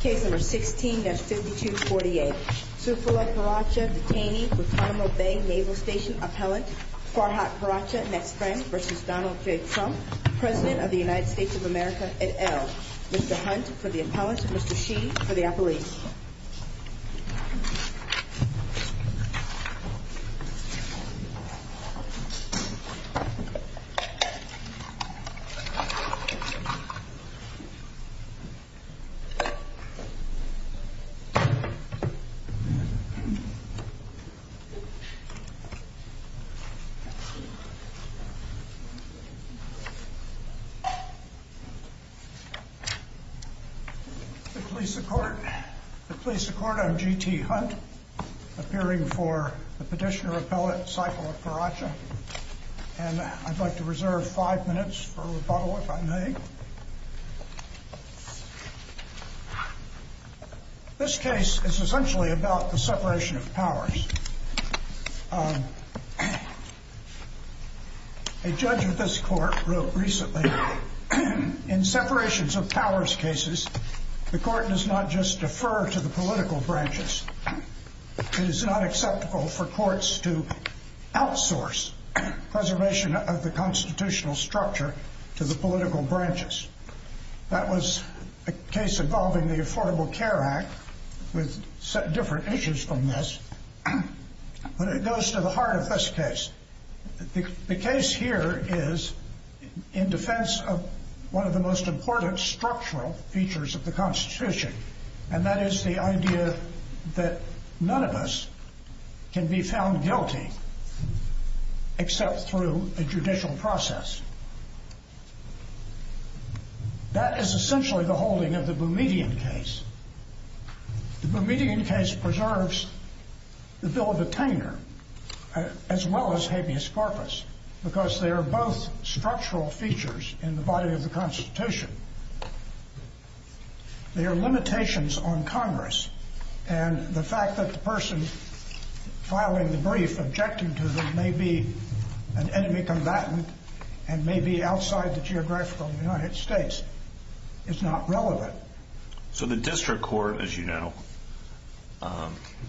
Case No. 16-5248 Saifullah Paracha, detainee, Guantanamo Bay Naval Station appellant Farhat Paracha, next friend, v. Donald J. Trump President of the United States of America, et al. Mr. Hunt, for the appellant Mr. Shi, for the appellant The police report on G.T. Hunt appearing for the petitioner appellant, Saifullah Paracha and I'd like to reserve five minutes for rebuttal, if I may This case is essentially about the separation of powers A judge of this court wrote recently In separations of powers cases, the court does not just defer to the political branches It is not acceptable for courts to outsource preservation of the constitutional structure to the political branches That was a case involving the Affordable Care Act with different issues from this But it goes to the heart of this case The case here is in defense of one of the most important structural features of the Constitution and that is the idea that none of us can be found guilty except through a judicial process That is essentially the holding of the Boumediene case The Boumediene case preserves the bill of attainer as well as habeas corpus because they are both structural features in the body of the Constitution There are limitations on Congress and the fact that the person filing the brief objecting to them may be an enemy combatant and may be outside the geographical United States is not relevant So the district court, as you know,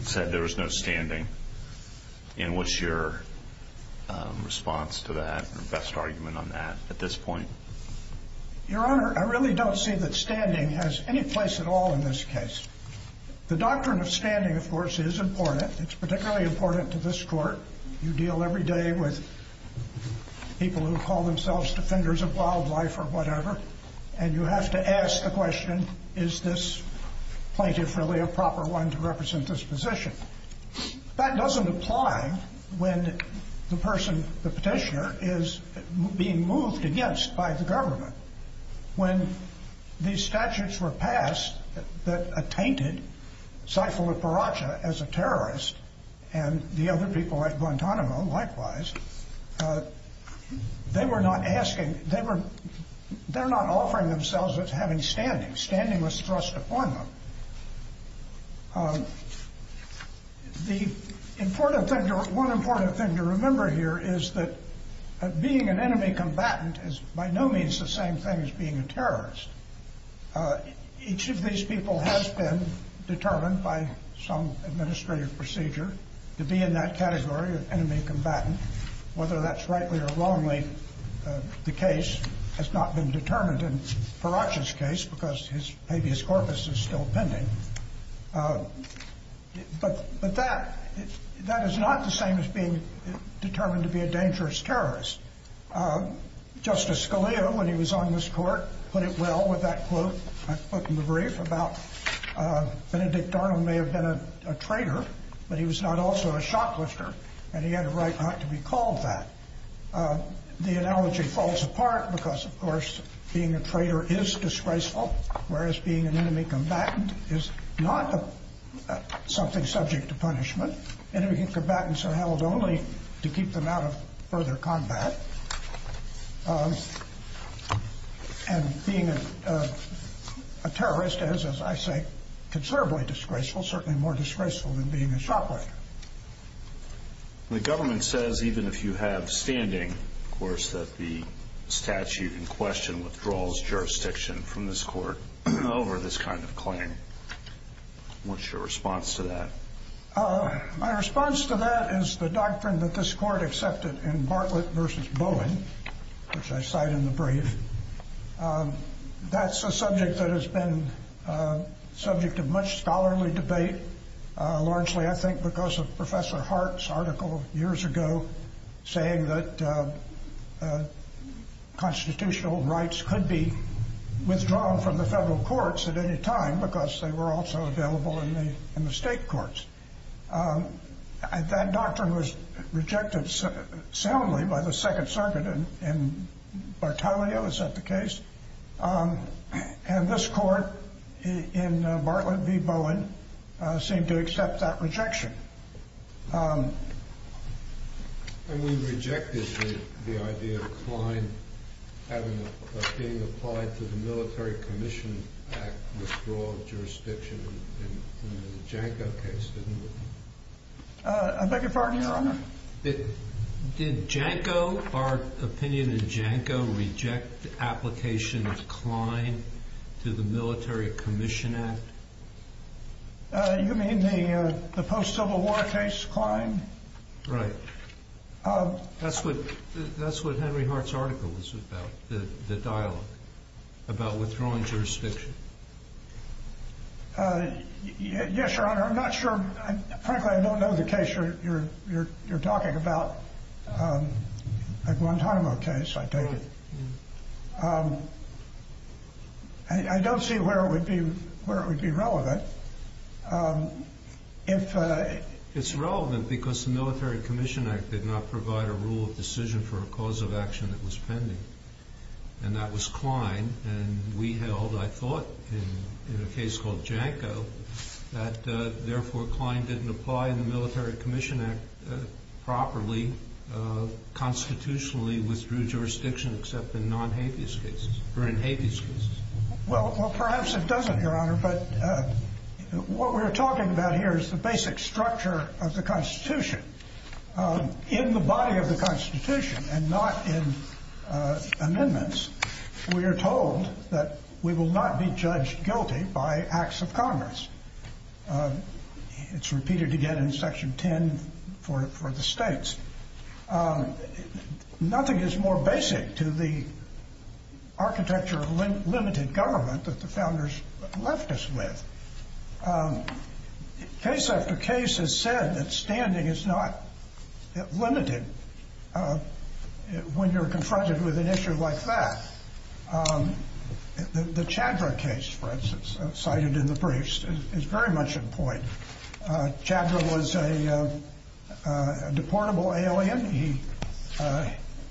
said there was no standing and what's your response to that, your best argument on that at this point? Your Honor, I really don't see that standing has any place at all in this case The doctrine of standing, of course, is important It's particularly important to this court You deal every day with people who call themselves defenders of wildlife or whatever and you have to ask the question Is this plaintiff really a proper one to represent this position? That doesn't apply when the person, the petitioner is being moved against by the government When these statutes were passed that attainted Saifullah Paracha as a terrorist and the other people at Guantanamo likewise they were not asking, they were they're not offering themselves as having standing standing was thrust upon them The important thing, one important thing to remember here is that being an enemy combatant is by no means the same thing as being a terrorist Each of these people has been determined by some administrative procedure to be in that category of enemy combatant whether that's rightly or wrongly the case has not been determined in Paracha's case because his habeas corpus is still pending But that is not the same as being determined to be a dangerous terrorist Justice Scalia, when he was on this court put it well with that quote I put in the brief about Benedict Arnold may have been a traitor but he was not also a shot lifter and he had a right not to be called that The analogy falls apart because of course being a traitor is disgraceful whereas being an enemy combatant is not something subject to punishment Enemy combatants are held only to keep them out of further combat And being a terrorist is, as I say, considerably disgraceful certainly more disgraceful than being a shot lifter The government says, even if you have standing that the statute in question withdraws jurisdiction from this court over this kind of claim What's your response to that? My response to that is the doctrine that this court accepted in Bartlett v. Bowen which I cite in the brief That's a subject that has been subject to much scholarly debate largely, I think, because of Professor Hart's article years ago saying that constitutional rights could be withdrawn from the federal courts at any time because they were also available in the state courts That doctrine was rejected soundly by the Second Circuit in Bartelio, is that the case? And this court, in Bartlett v. Bowen seemed to accept that rejection And we rejected the idea of Klein being applied to the Military Commission Act withdrawal of jurisdiction in the Janko case, didn't we? I beg your pardon, Your Honor? Did Janko, our opinion in Janko reject the application of Klein to the Military Commission Act? You mean the post-Civil War case, Klein? Right That's what Henry Hart's article was about the dialogue about withdrawing jurisdiction Yes, Your Honor, I'm not sure Frankly, I don't know the case you're talking about the Guantanamo case, I take it I don't see where it would be relevant It's relevant because the Military Commission Act did not provide a rule of decision for a cause of action that was pending and that was Klein and we held, I thought, in a case called Janko that therefore Klein didn't apply in the Military Commission Act properly, constitutionally, withdrew jurisdiction except in non-habeas cases or in habeas cases Well, perhaps it doesn't, Your Honor but what we're talking about here is the basic structure of the Constitution In the body of the Constitution and not in amendments we are told that we will not be judged guilty by acts of Congress It's repeated again in Section 10 for the states Nothing is more basic to the architecture of limited government that the Founders left us with Case after case has said that standing is not limited when you're confronted with an issue like that The Chadra case, for instance, cited in the briefs is very much in point Chadra was a deportable alien He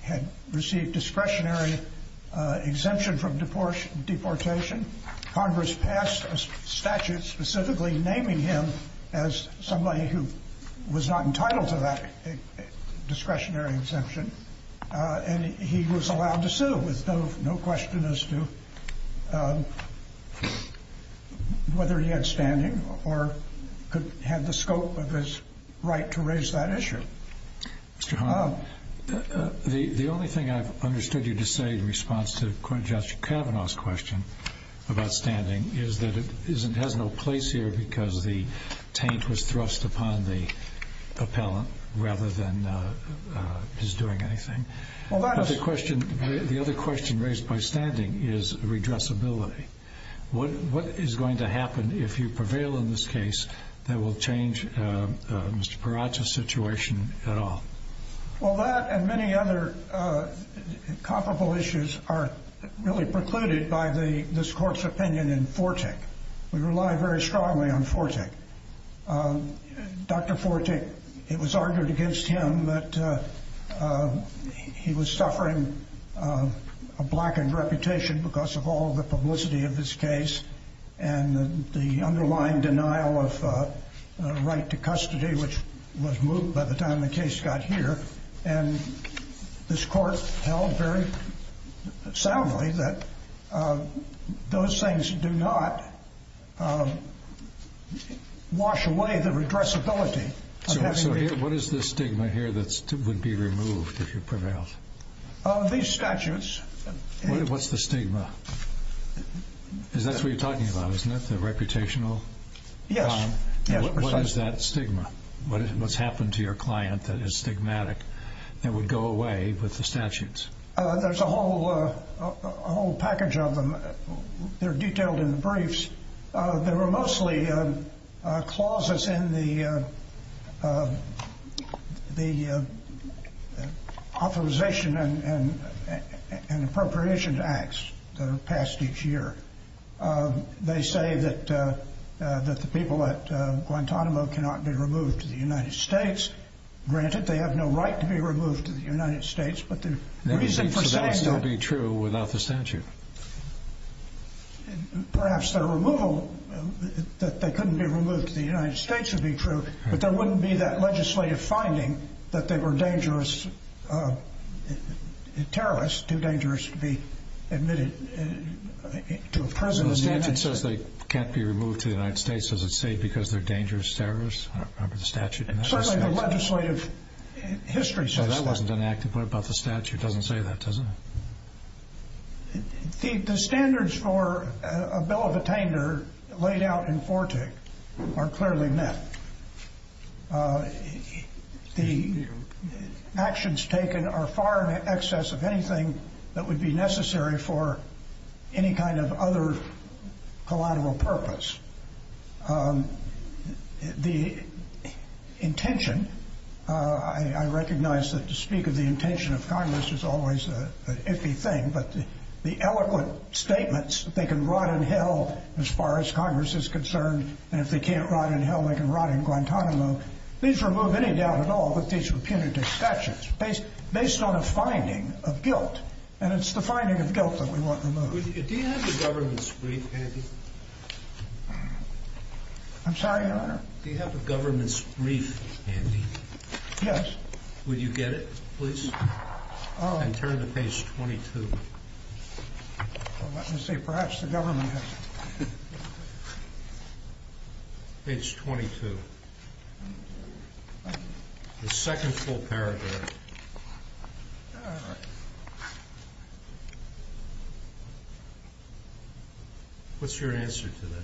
had received discretionary exemption from deportation Congress passed a statute specifically naming him as somebody who was not entitled to that discretionary exemption and he was allowed to sue with no question as to whether he had standing or had the scope of his right to raise that issue Mr. Hahn the only thing I've understood you to say in response to Judge Kavanaugh's question about standing is that it has no place here because the taint was thrust upon the The other question raised by standing is redressability What is going to happen if you prevail in this case that will change Mr. Peratta's situation at all? Well that and many other comparable issues are really precluded by this Court's opinion in Fortick We rely very strongly on Fortick Dr. Fortick It was argued against him that he was suffering a blackened reputation because of all the publicity of this case and the underlying denial of right to custody which was moved by the time the case got here and this Court held very soundly that those things do not wash away the redressability So what is the stigma here that would be removed if you prevailed? These statutes What's the stigma? That's what you're talking about isn't it? The reputational Yes What is that stigma? What's happened to your client that is stigmatic that would go away with the statutes? There's a whole package of them They're detailed in the briefs They were mostly clauses in the the authorization and appropriation acts that are passed each year They say that the people at Guantanamo cannot be removed to the United States Granted they have no right to be removed to the United States So that would still be true without the statute? Perhaps their removal that they couldn't be removed to the United States would be true but there wouldn't be that legislative finding that they were dangerous terrorists, too dangerous to be admitted to a prison The statute says they can't be removed to the United States Does it say because they're dangerous terrorists? I don't remember the statute Certainly the legislative history says that That wasn't enacted. What about the statute? It doesn't say that does it? The standards for a bill of attainder laid out in FORTIC are clearly met The actions taken are far in excess of anything that would be necessary for any kind of other collateral purpose The intention I recognize that to speak of the intention of Congress is always an iffy thing, but the eloquent statements that they can rot in hell as far as Congress is concerned and if they can't rot in hell they can rot in Guantanamo These remove any doubt at all that these were punitive statutes based on a finding of guilt and it's the finding of guilt that we want removed Do you have a government's brief, Andy? I'm sorry, your honor? Do you have a government's brief, Andy? Yes Would you get it, please? And turn to page 22 Let me see, perhaps the government has it Page 22 The second full paragraph All right What's your answer to that?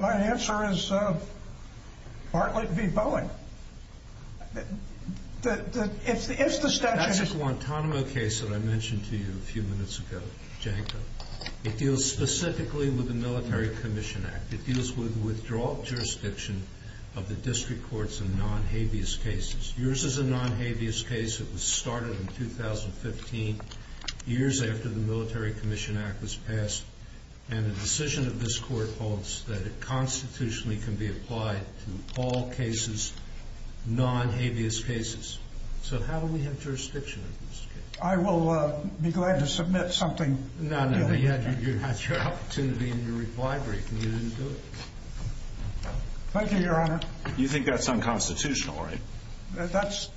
My answer is Bartlett v. Boeing If the statute That's a Guantanamo case that I mentioned to you a few minutes ago, Janko It deals specifically with the Military Commission Act It deals with withdrawal of jurisdiction of the district courts in non-habeas cases Yours is a non-habeas case It was started in 2015 years after the Military Commission Act was passed and the decision of this court holds that it constitutionally can be applied to all cases non-habeas cases So how do we have jurisdiction in this case? I will be glad to submit something No, no, you had your opportunity in your reply brief and you didn't do it Thank you, your honor You think that's unconstitutional, right? That's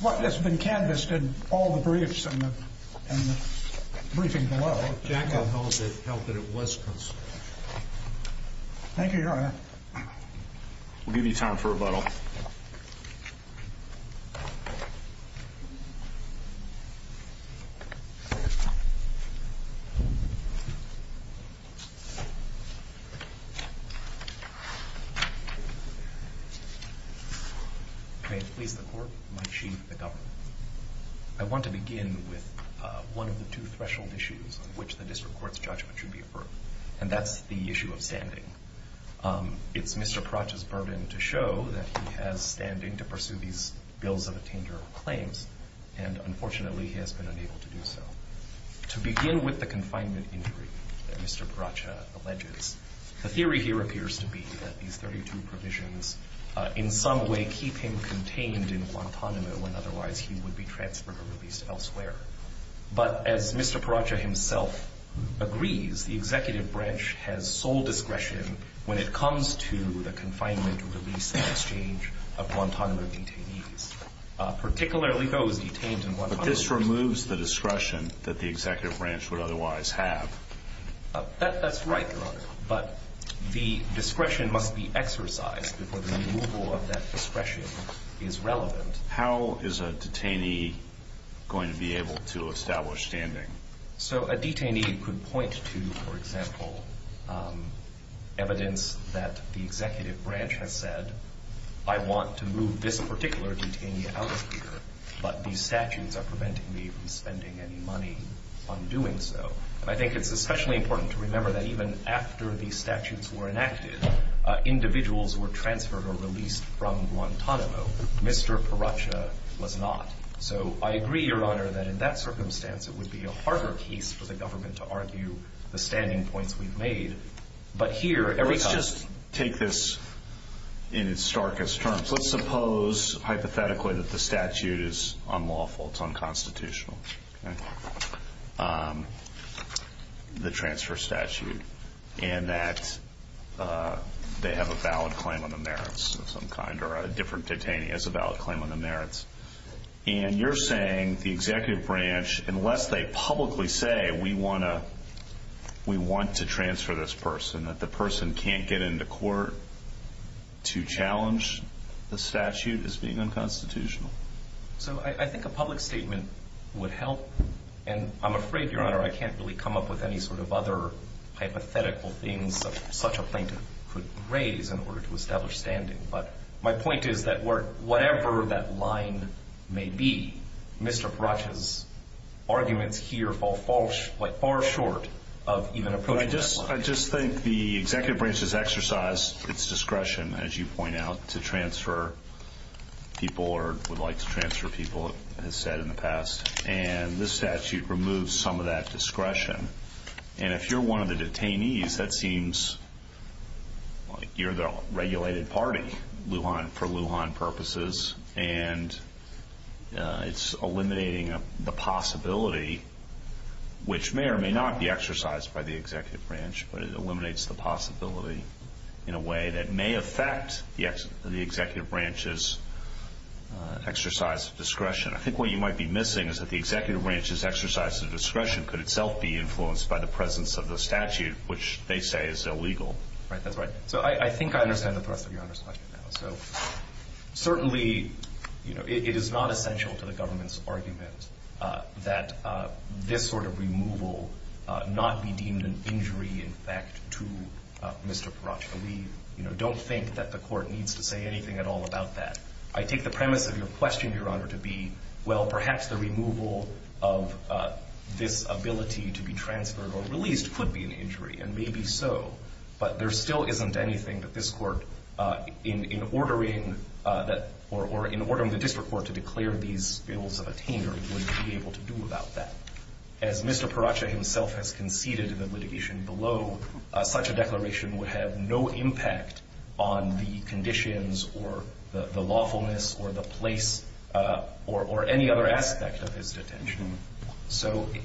what has been canvassed in all the briefs and the briefing below Janko held that it was constitutional Thank you, your honor We'll give you time for rebuttal May it please the court, my chief, the government I want to begin with one of the two threshold issues on which the district court's judgment should be affirmed and that's the issue of standing It's Mr. Pratchett's burden to show that he has standing to pursue these bills of attainder claims To be able to do so is to be able to do so Let me begin with the confinement injury that Mr. Pratchett alleges The theory here appears to be that these 32 provisions in some way keep him contained in Guantanamo and otherwise he would be transferred or released elsewhere But as Mr. Pratchett himself agrees the executive branch has sole discretion when it comes to the confinement release and exchange of Guantanamo detainees particularly those detained in Guantanamo that the executive branch would otherwise have That's right, your honor But the discretion must be exercised before the removal of that discretion is relevant How is a detainee going to be able to establish standing? So a detainee could point to, for example evidence that the executive branch has said I want to move this particular detainee out of here But these statutes are preventing me from spending any money on doing so And I think it's especially important to remember that even after these statutes were enacted individuals were transferred or released from Guantanamo Mr. Pratchett was not So I agree, your honor, that in that circumstance it would be a harder case for the government to argue the standing points we've made But here, every time Let's just take this in its starkest terms Let's suppose, hypothetically, that the statute is unlawful It's unconstitutional The transfer statute And that they have a valid claim on the merits of some kind or a different detainee has a valid claim on the merits And you're saying the executive branch unless they publicly say we want to transfer this person that the person can't get into court to challenge the statute as being unconstitutional So I think a public statement would help And I'm afraid, your honor, I can't really come up with any sort of other hypothetical things that such a plaintiff could raise in order to establish standing But my point is that whatever that line may be Mr. Pratchett's arguments here fall far short But I just think the executive branch has exercised its discretion, as you point out to transfer people or would like to transfer people as said in the past And this statute removes some of that discretion And if you're one of the detainees that seems like you're the regulated party for Lujan purposes And it's eliminating the possibility which may or may not be exercised by the executive branch But it eliminates the possibility in a way that may affect the executive branch's exercise of discretion I think what you might be missing is that the executive branch's exercise of discretion could itself be influenced by the presence of the statute which they say is illegal Right, that's right So I think I understand the thrust of your honor's question So certainly it is not essential to the government's argument that this sort of removal not be deemed an injury in fact to Mr. Pratchett Don't think that the court needs to say anything at all about that I take the premise of your question, your honor, to be well, perhaps the removal of this ability to be transferred or released could be an injury, and maybe so But there still isn't anything that this court in ordering the district court to declare these bills of attainment would be able to do about that As Mr. Pratchett himself has conceded in the litigation below such a declaration would have no impact on the conditions or the lawfulness or the place or any other aspect of his detention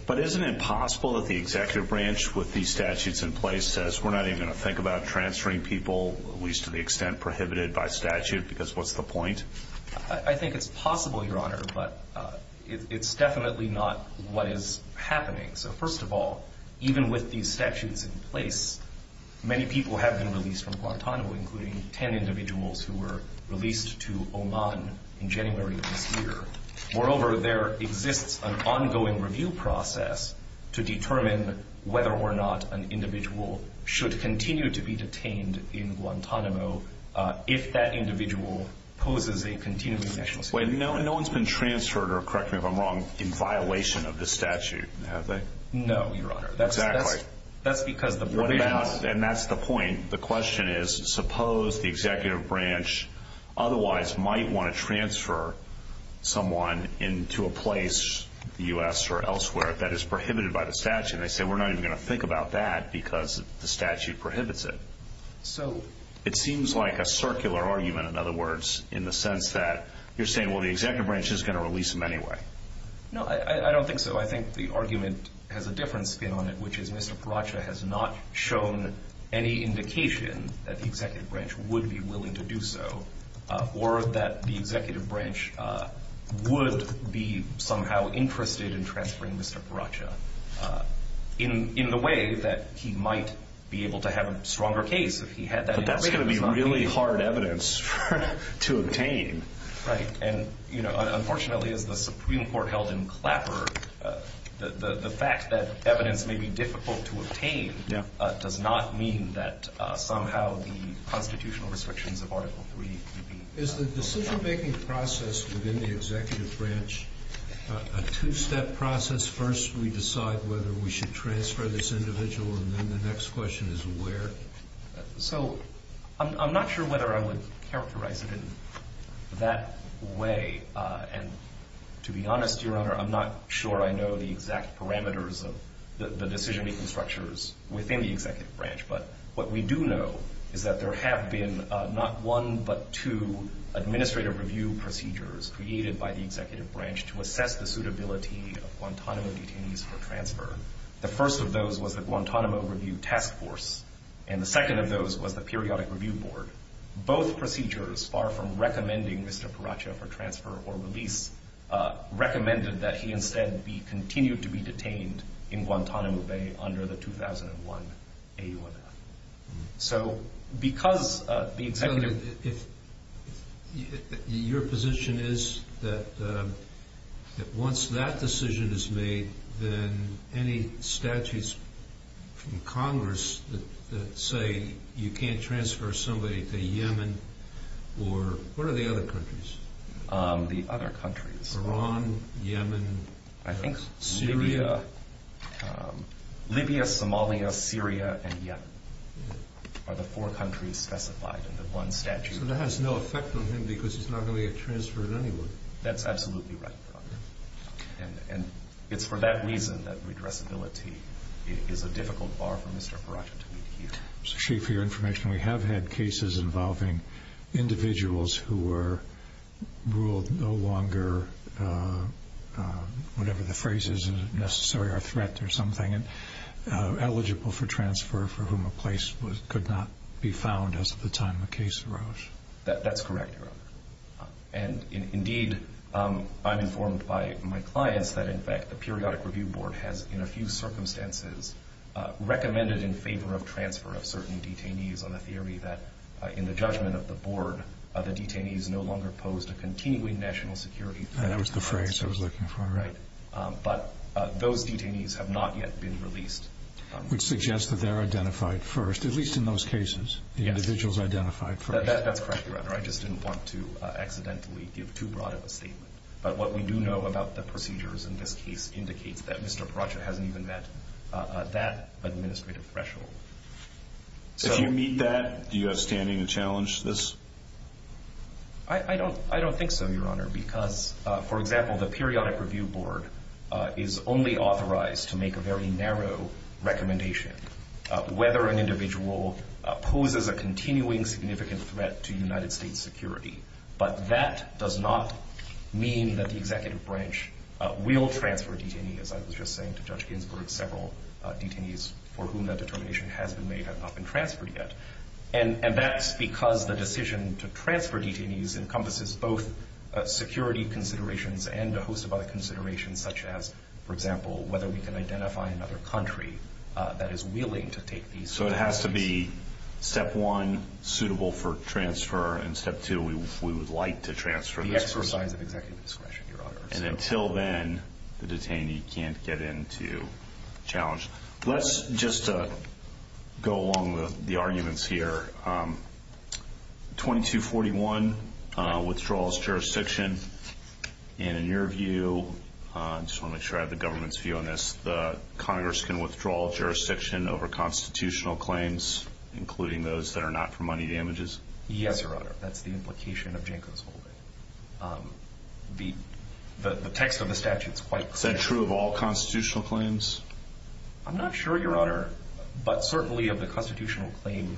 But isn't it possible that the executive branch with these statutes in place says we're not even going to think about transferring people at least to the extent prohibited by statute because what's the point? I think it's possible, your honor but it's definitely not what is happening So first of all, even with these statutes in place many people have been released from Guantanamo including 10 individuals who were released to Oman in January of this year Moreover, there exists an ongoing review process to determine whether or not an individual should continue to be detained in Guantanamo if that individual poses a continuing national security threat Wait, no one's been transferred or correct me if I'm wrong in violation of this statute, have they? No, your honor Exactly That's because the provisions And that's the point The question is, suppose the executive branch otherwise might want to transfer someone into a place, U.S. or elsewhere that is prohibited by the statute and they say we're not even going to think about that because the statute prohibits it So It seems like a circular argument, in other words in the sense that you're saying well, the executive branch is going to release him anyway No, I don't think so I think the argument has a different spin on it which is Mr. Paracha has not shown any indication that the executive branch would be willing to do so or that the executive branch would be somehow interested in transferring Mr. Paracha in the way that he might be able to have a stronger case if he had that information But that's going to be really hard evidence to obtain Right And, you know, unfortunately as the Supreme Court held in Clapper the fact that evidence may be difficult to obtain does not mean that somehow the constitutional restrictions of Article III Is the decision-making process within the executive branch a two-step process? Because first we decide whether we should transfer this individual and then the next question is where So I'm not sure whether I would characterize it in that way And to be honest, Your Honor I'm not sure I know the exact parameters of the decision-making structures within the executive branch But what we do know is that there have been not one but two administrative review procedures created by the executive branch to assess the suitability of Guantanamo detainees for transfer The first of those was the Guantanamo Review Task Force And the second of those was the Periodic Review Board Both procedures far from recommending Mr. Paracha for transfer or release recommended that he instead be continued to be detained in Guantanamo Bay under the 2001 AUMF So because the executive Your position is that once that decision is made then any statutes from Congress that say you can't transfer somebody to Yemen or what are the other countries? The other countries Iran, Yemen, Syria Libya, Somalia, Syria and Yemen are the four countries specified in the one statute So that has no effect on him because he's not going to get transferred anywhere That's absolutely right, Your Honor And it's for that reason that redressability is a difficult bar for Mr. Paracha to meet here Chief, for your information we have had cases involving individuals who were ruled no longer whatever the phrase is necessary or a threat or something eligible for transfer for whom a place could not be found as of the time the case arose That's correct, Your Honor And indeed I'm informed by my clients that in fact the Periodic Review Board has in a few circumstances recommended in favor of transfer of certain detainees on the theory that in the judgment of the board the detainees no longer posed a continuing national security threat That was the phrase I was looking for Right But those detainees have not yet been released Which suggests that they're identified first at least in those cases Yes The individuals identified first That's correct, Your Honor I just didn't want to accidentally give too broad of a statement But what we do know about the procedures in this case indicates that Mr. Paracha hasn't even met that administrative threshold If you meet that do you have standing to challenge this? I don't think so, Your Honor because for example the Periodic Review Board is only authorized to make a very narrow recommendation whether an individual poses a continuing significant threat to United States security But that does not mean that the Executive Branch will transfer detainees as I was just saying to Judge Ginsburg several detainees for whom that determination has been made have not been transferred yet And that's because the decision to transfer detainees encompasses both security considerations and a host of other considerations such as, for example whether we can identify another country that is willing to take these So that would be step one suitable for transfer and step two we would like to transfer The exercise of executive discretion, Your Honor And until then the detainee can't get into challenge Let's just go along with the arguments here 2241 withdraws jurisdiction And in your view I just want to make sure I have the government's view on this The Congress can withdraw jurisdiction over constitutional claims including those that are not for money damages Yes, Your Honor That's the implication of Janko's holding The text of the statute is quite clear Is that true of all constitutional claims? I'm not sure, Your Honor But certainly of the constitutional claims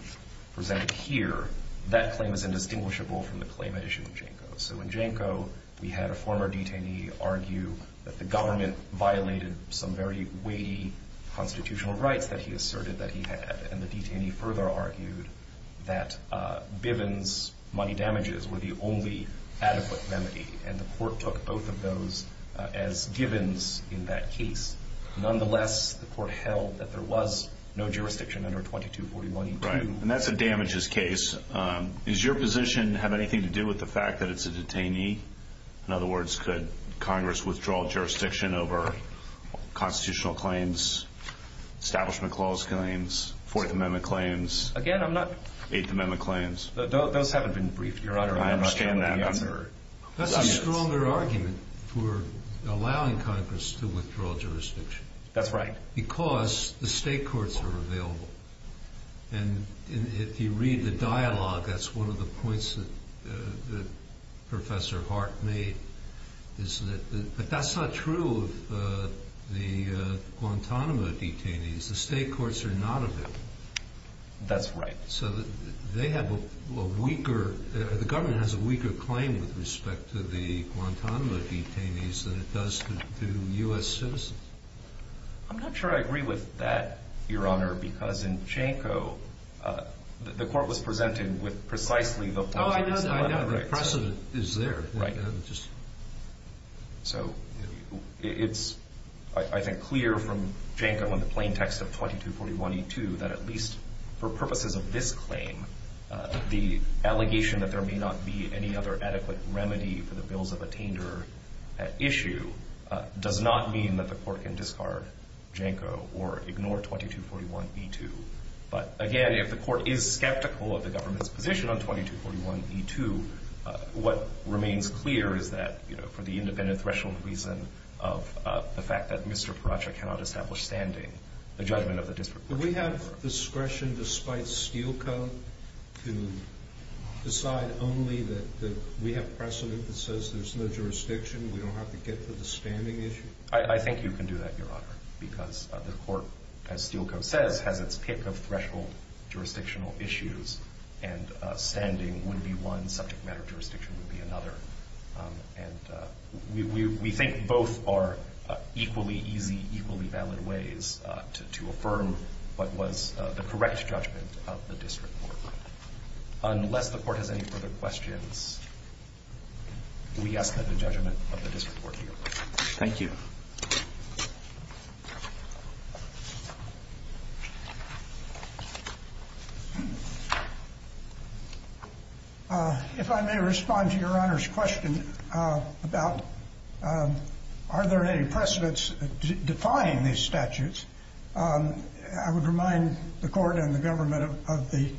presented here That claim is indistinguishable from the claim issued to Janko So in Janko we had a former detainee argue that the government violated some very weighty constitutional rights that he asserted that he had And the detainee further argued that Bivens money damages were the only adequate remedy And the court took both of those as givens in that case Nonetheless the court held that there was no jurisdiction under 2241-2 Right And that's a damages case Is your position have anything to do with the fact that it's a detainee? In other words could Congress withdraw jurisdiction over constitutional claims Establishment clause claims Fourth Amendment claims Again, I'm not Eighth Amendment claims Those haven't been briefed, Your Honor I understand that That's a stronger argument for allowing Congress to withdraw jurisdiction That's right Because the state courts are available And if you read the dialogue that's one of the points that Professor Hart made But that's not true of the Guantanamo detainees The state courts are not available That's right So they have a weaker The government has a weaker claim with respect to the Guantanamo detainees than it does to U.S. citizens I'm not sure I agree with that Your Honor Because in Chanko the court was presented with precisely the points Oh, I know The precedent is there Right So it's, I think, clear from Chanko in the plain text of 2241E2 that at least for purposes of this claim the allegation that there may not be any other adequate remedy for the bills of attainder at issue does not mean that the court can discard Chanko or ignore 2241E2 But again, if the court is skeptical of the government's position on 2241E2 what remains clear is that for the independent threshold reason of the fact that Mr. Paracha cannot establish standing the judgment of the district court Do we have discretion despite Steele Co. to decide only that we have precedent that says there's no jurisdiction We don't have to get to the standing issue I think you can do that Your Honor Because the court as Steele Co. says has its pick of threshold jurisdictional issues and standing would be one subject matter jurisdiction would be another And we think both are equally easy equally valid ways to affirm what was the correct judgment of the district court Unless the court has any further questions we ask that the judgment of the district court be approved Thank you If I may respond to Your Honor's question about are there any precedents defying these statutes I would remind the court and the government of the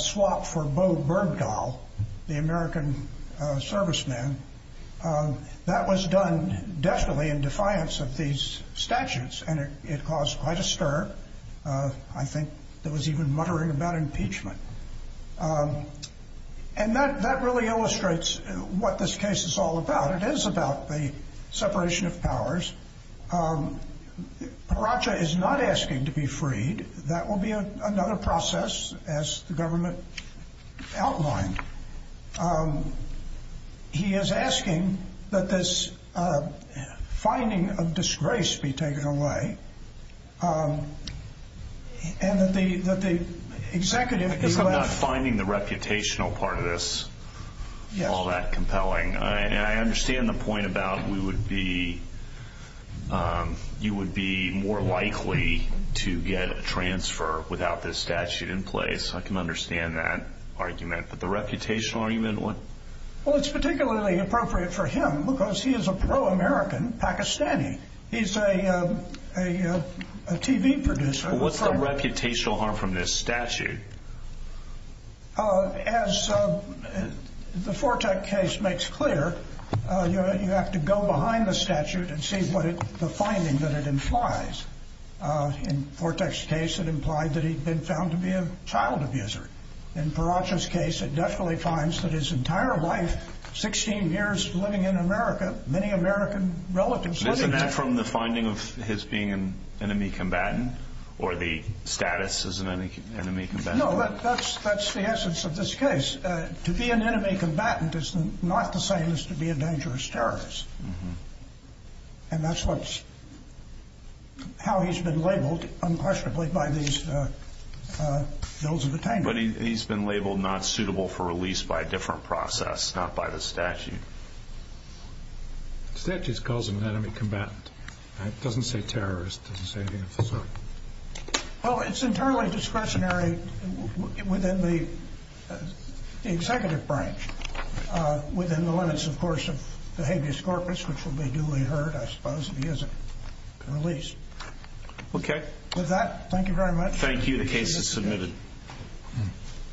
swap for Bo Bergdahl the American serviceman That was done deftly in defiance of these statutes and it caused quite a stir I think there was even muttering about impeachment And that really illustrates what this case is all about It is about the separation of powers Paracha is not asking to be freed That will be another process as the government outlined He is asking that this finding of disgrace be taken away And that the executive Because I'm not finding the reputational part of this all that compelling I understand the point about we would be you would be more likely to get a transfer without this statute in place I can understand that argument But the reputational argument What? Well it's particularly appropriate for him because he is a pro-American Pakistani He's a a TV producer What's the reputational harm from this statute? As the Fortech case makes clear you have to go behind the statute and see what the finding that it implies In Fortech's case it implied that he had been found to be a child abuser In Paracha's case it definitely finds that his entire life 16 years living in America many American relatives Isn't that from the finding of his being an enemy combatant Or the status as an enemy combatant No, that's the essence of this case To be an enemy combatant is not the same as to be a dangerous terrorist And that's what's how he's been labeled unquestionably by these bills of attainment But he's been labeled not suitable for release by a different process not by the statute The statute calls him an enemy combatant It doesn't say terrorist It doesn't say anything of the sort Well, it's internally discretionary within the executive branch within the limits, of course of habeas corpus which will be duly heard I suppose, if he isn't released Okay With that, thank you very much Thank you, the case is submitted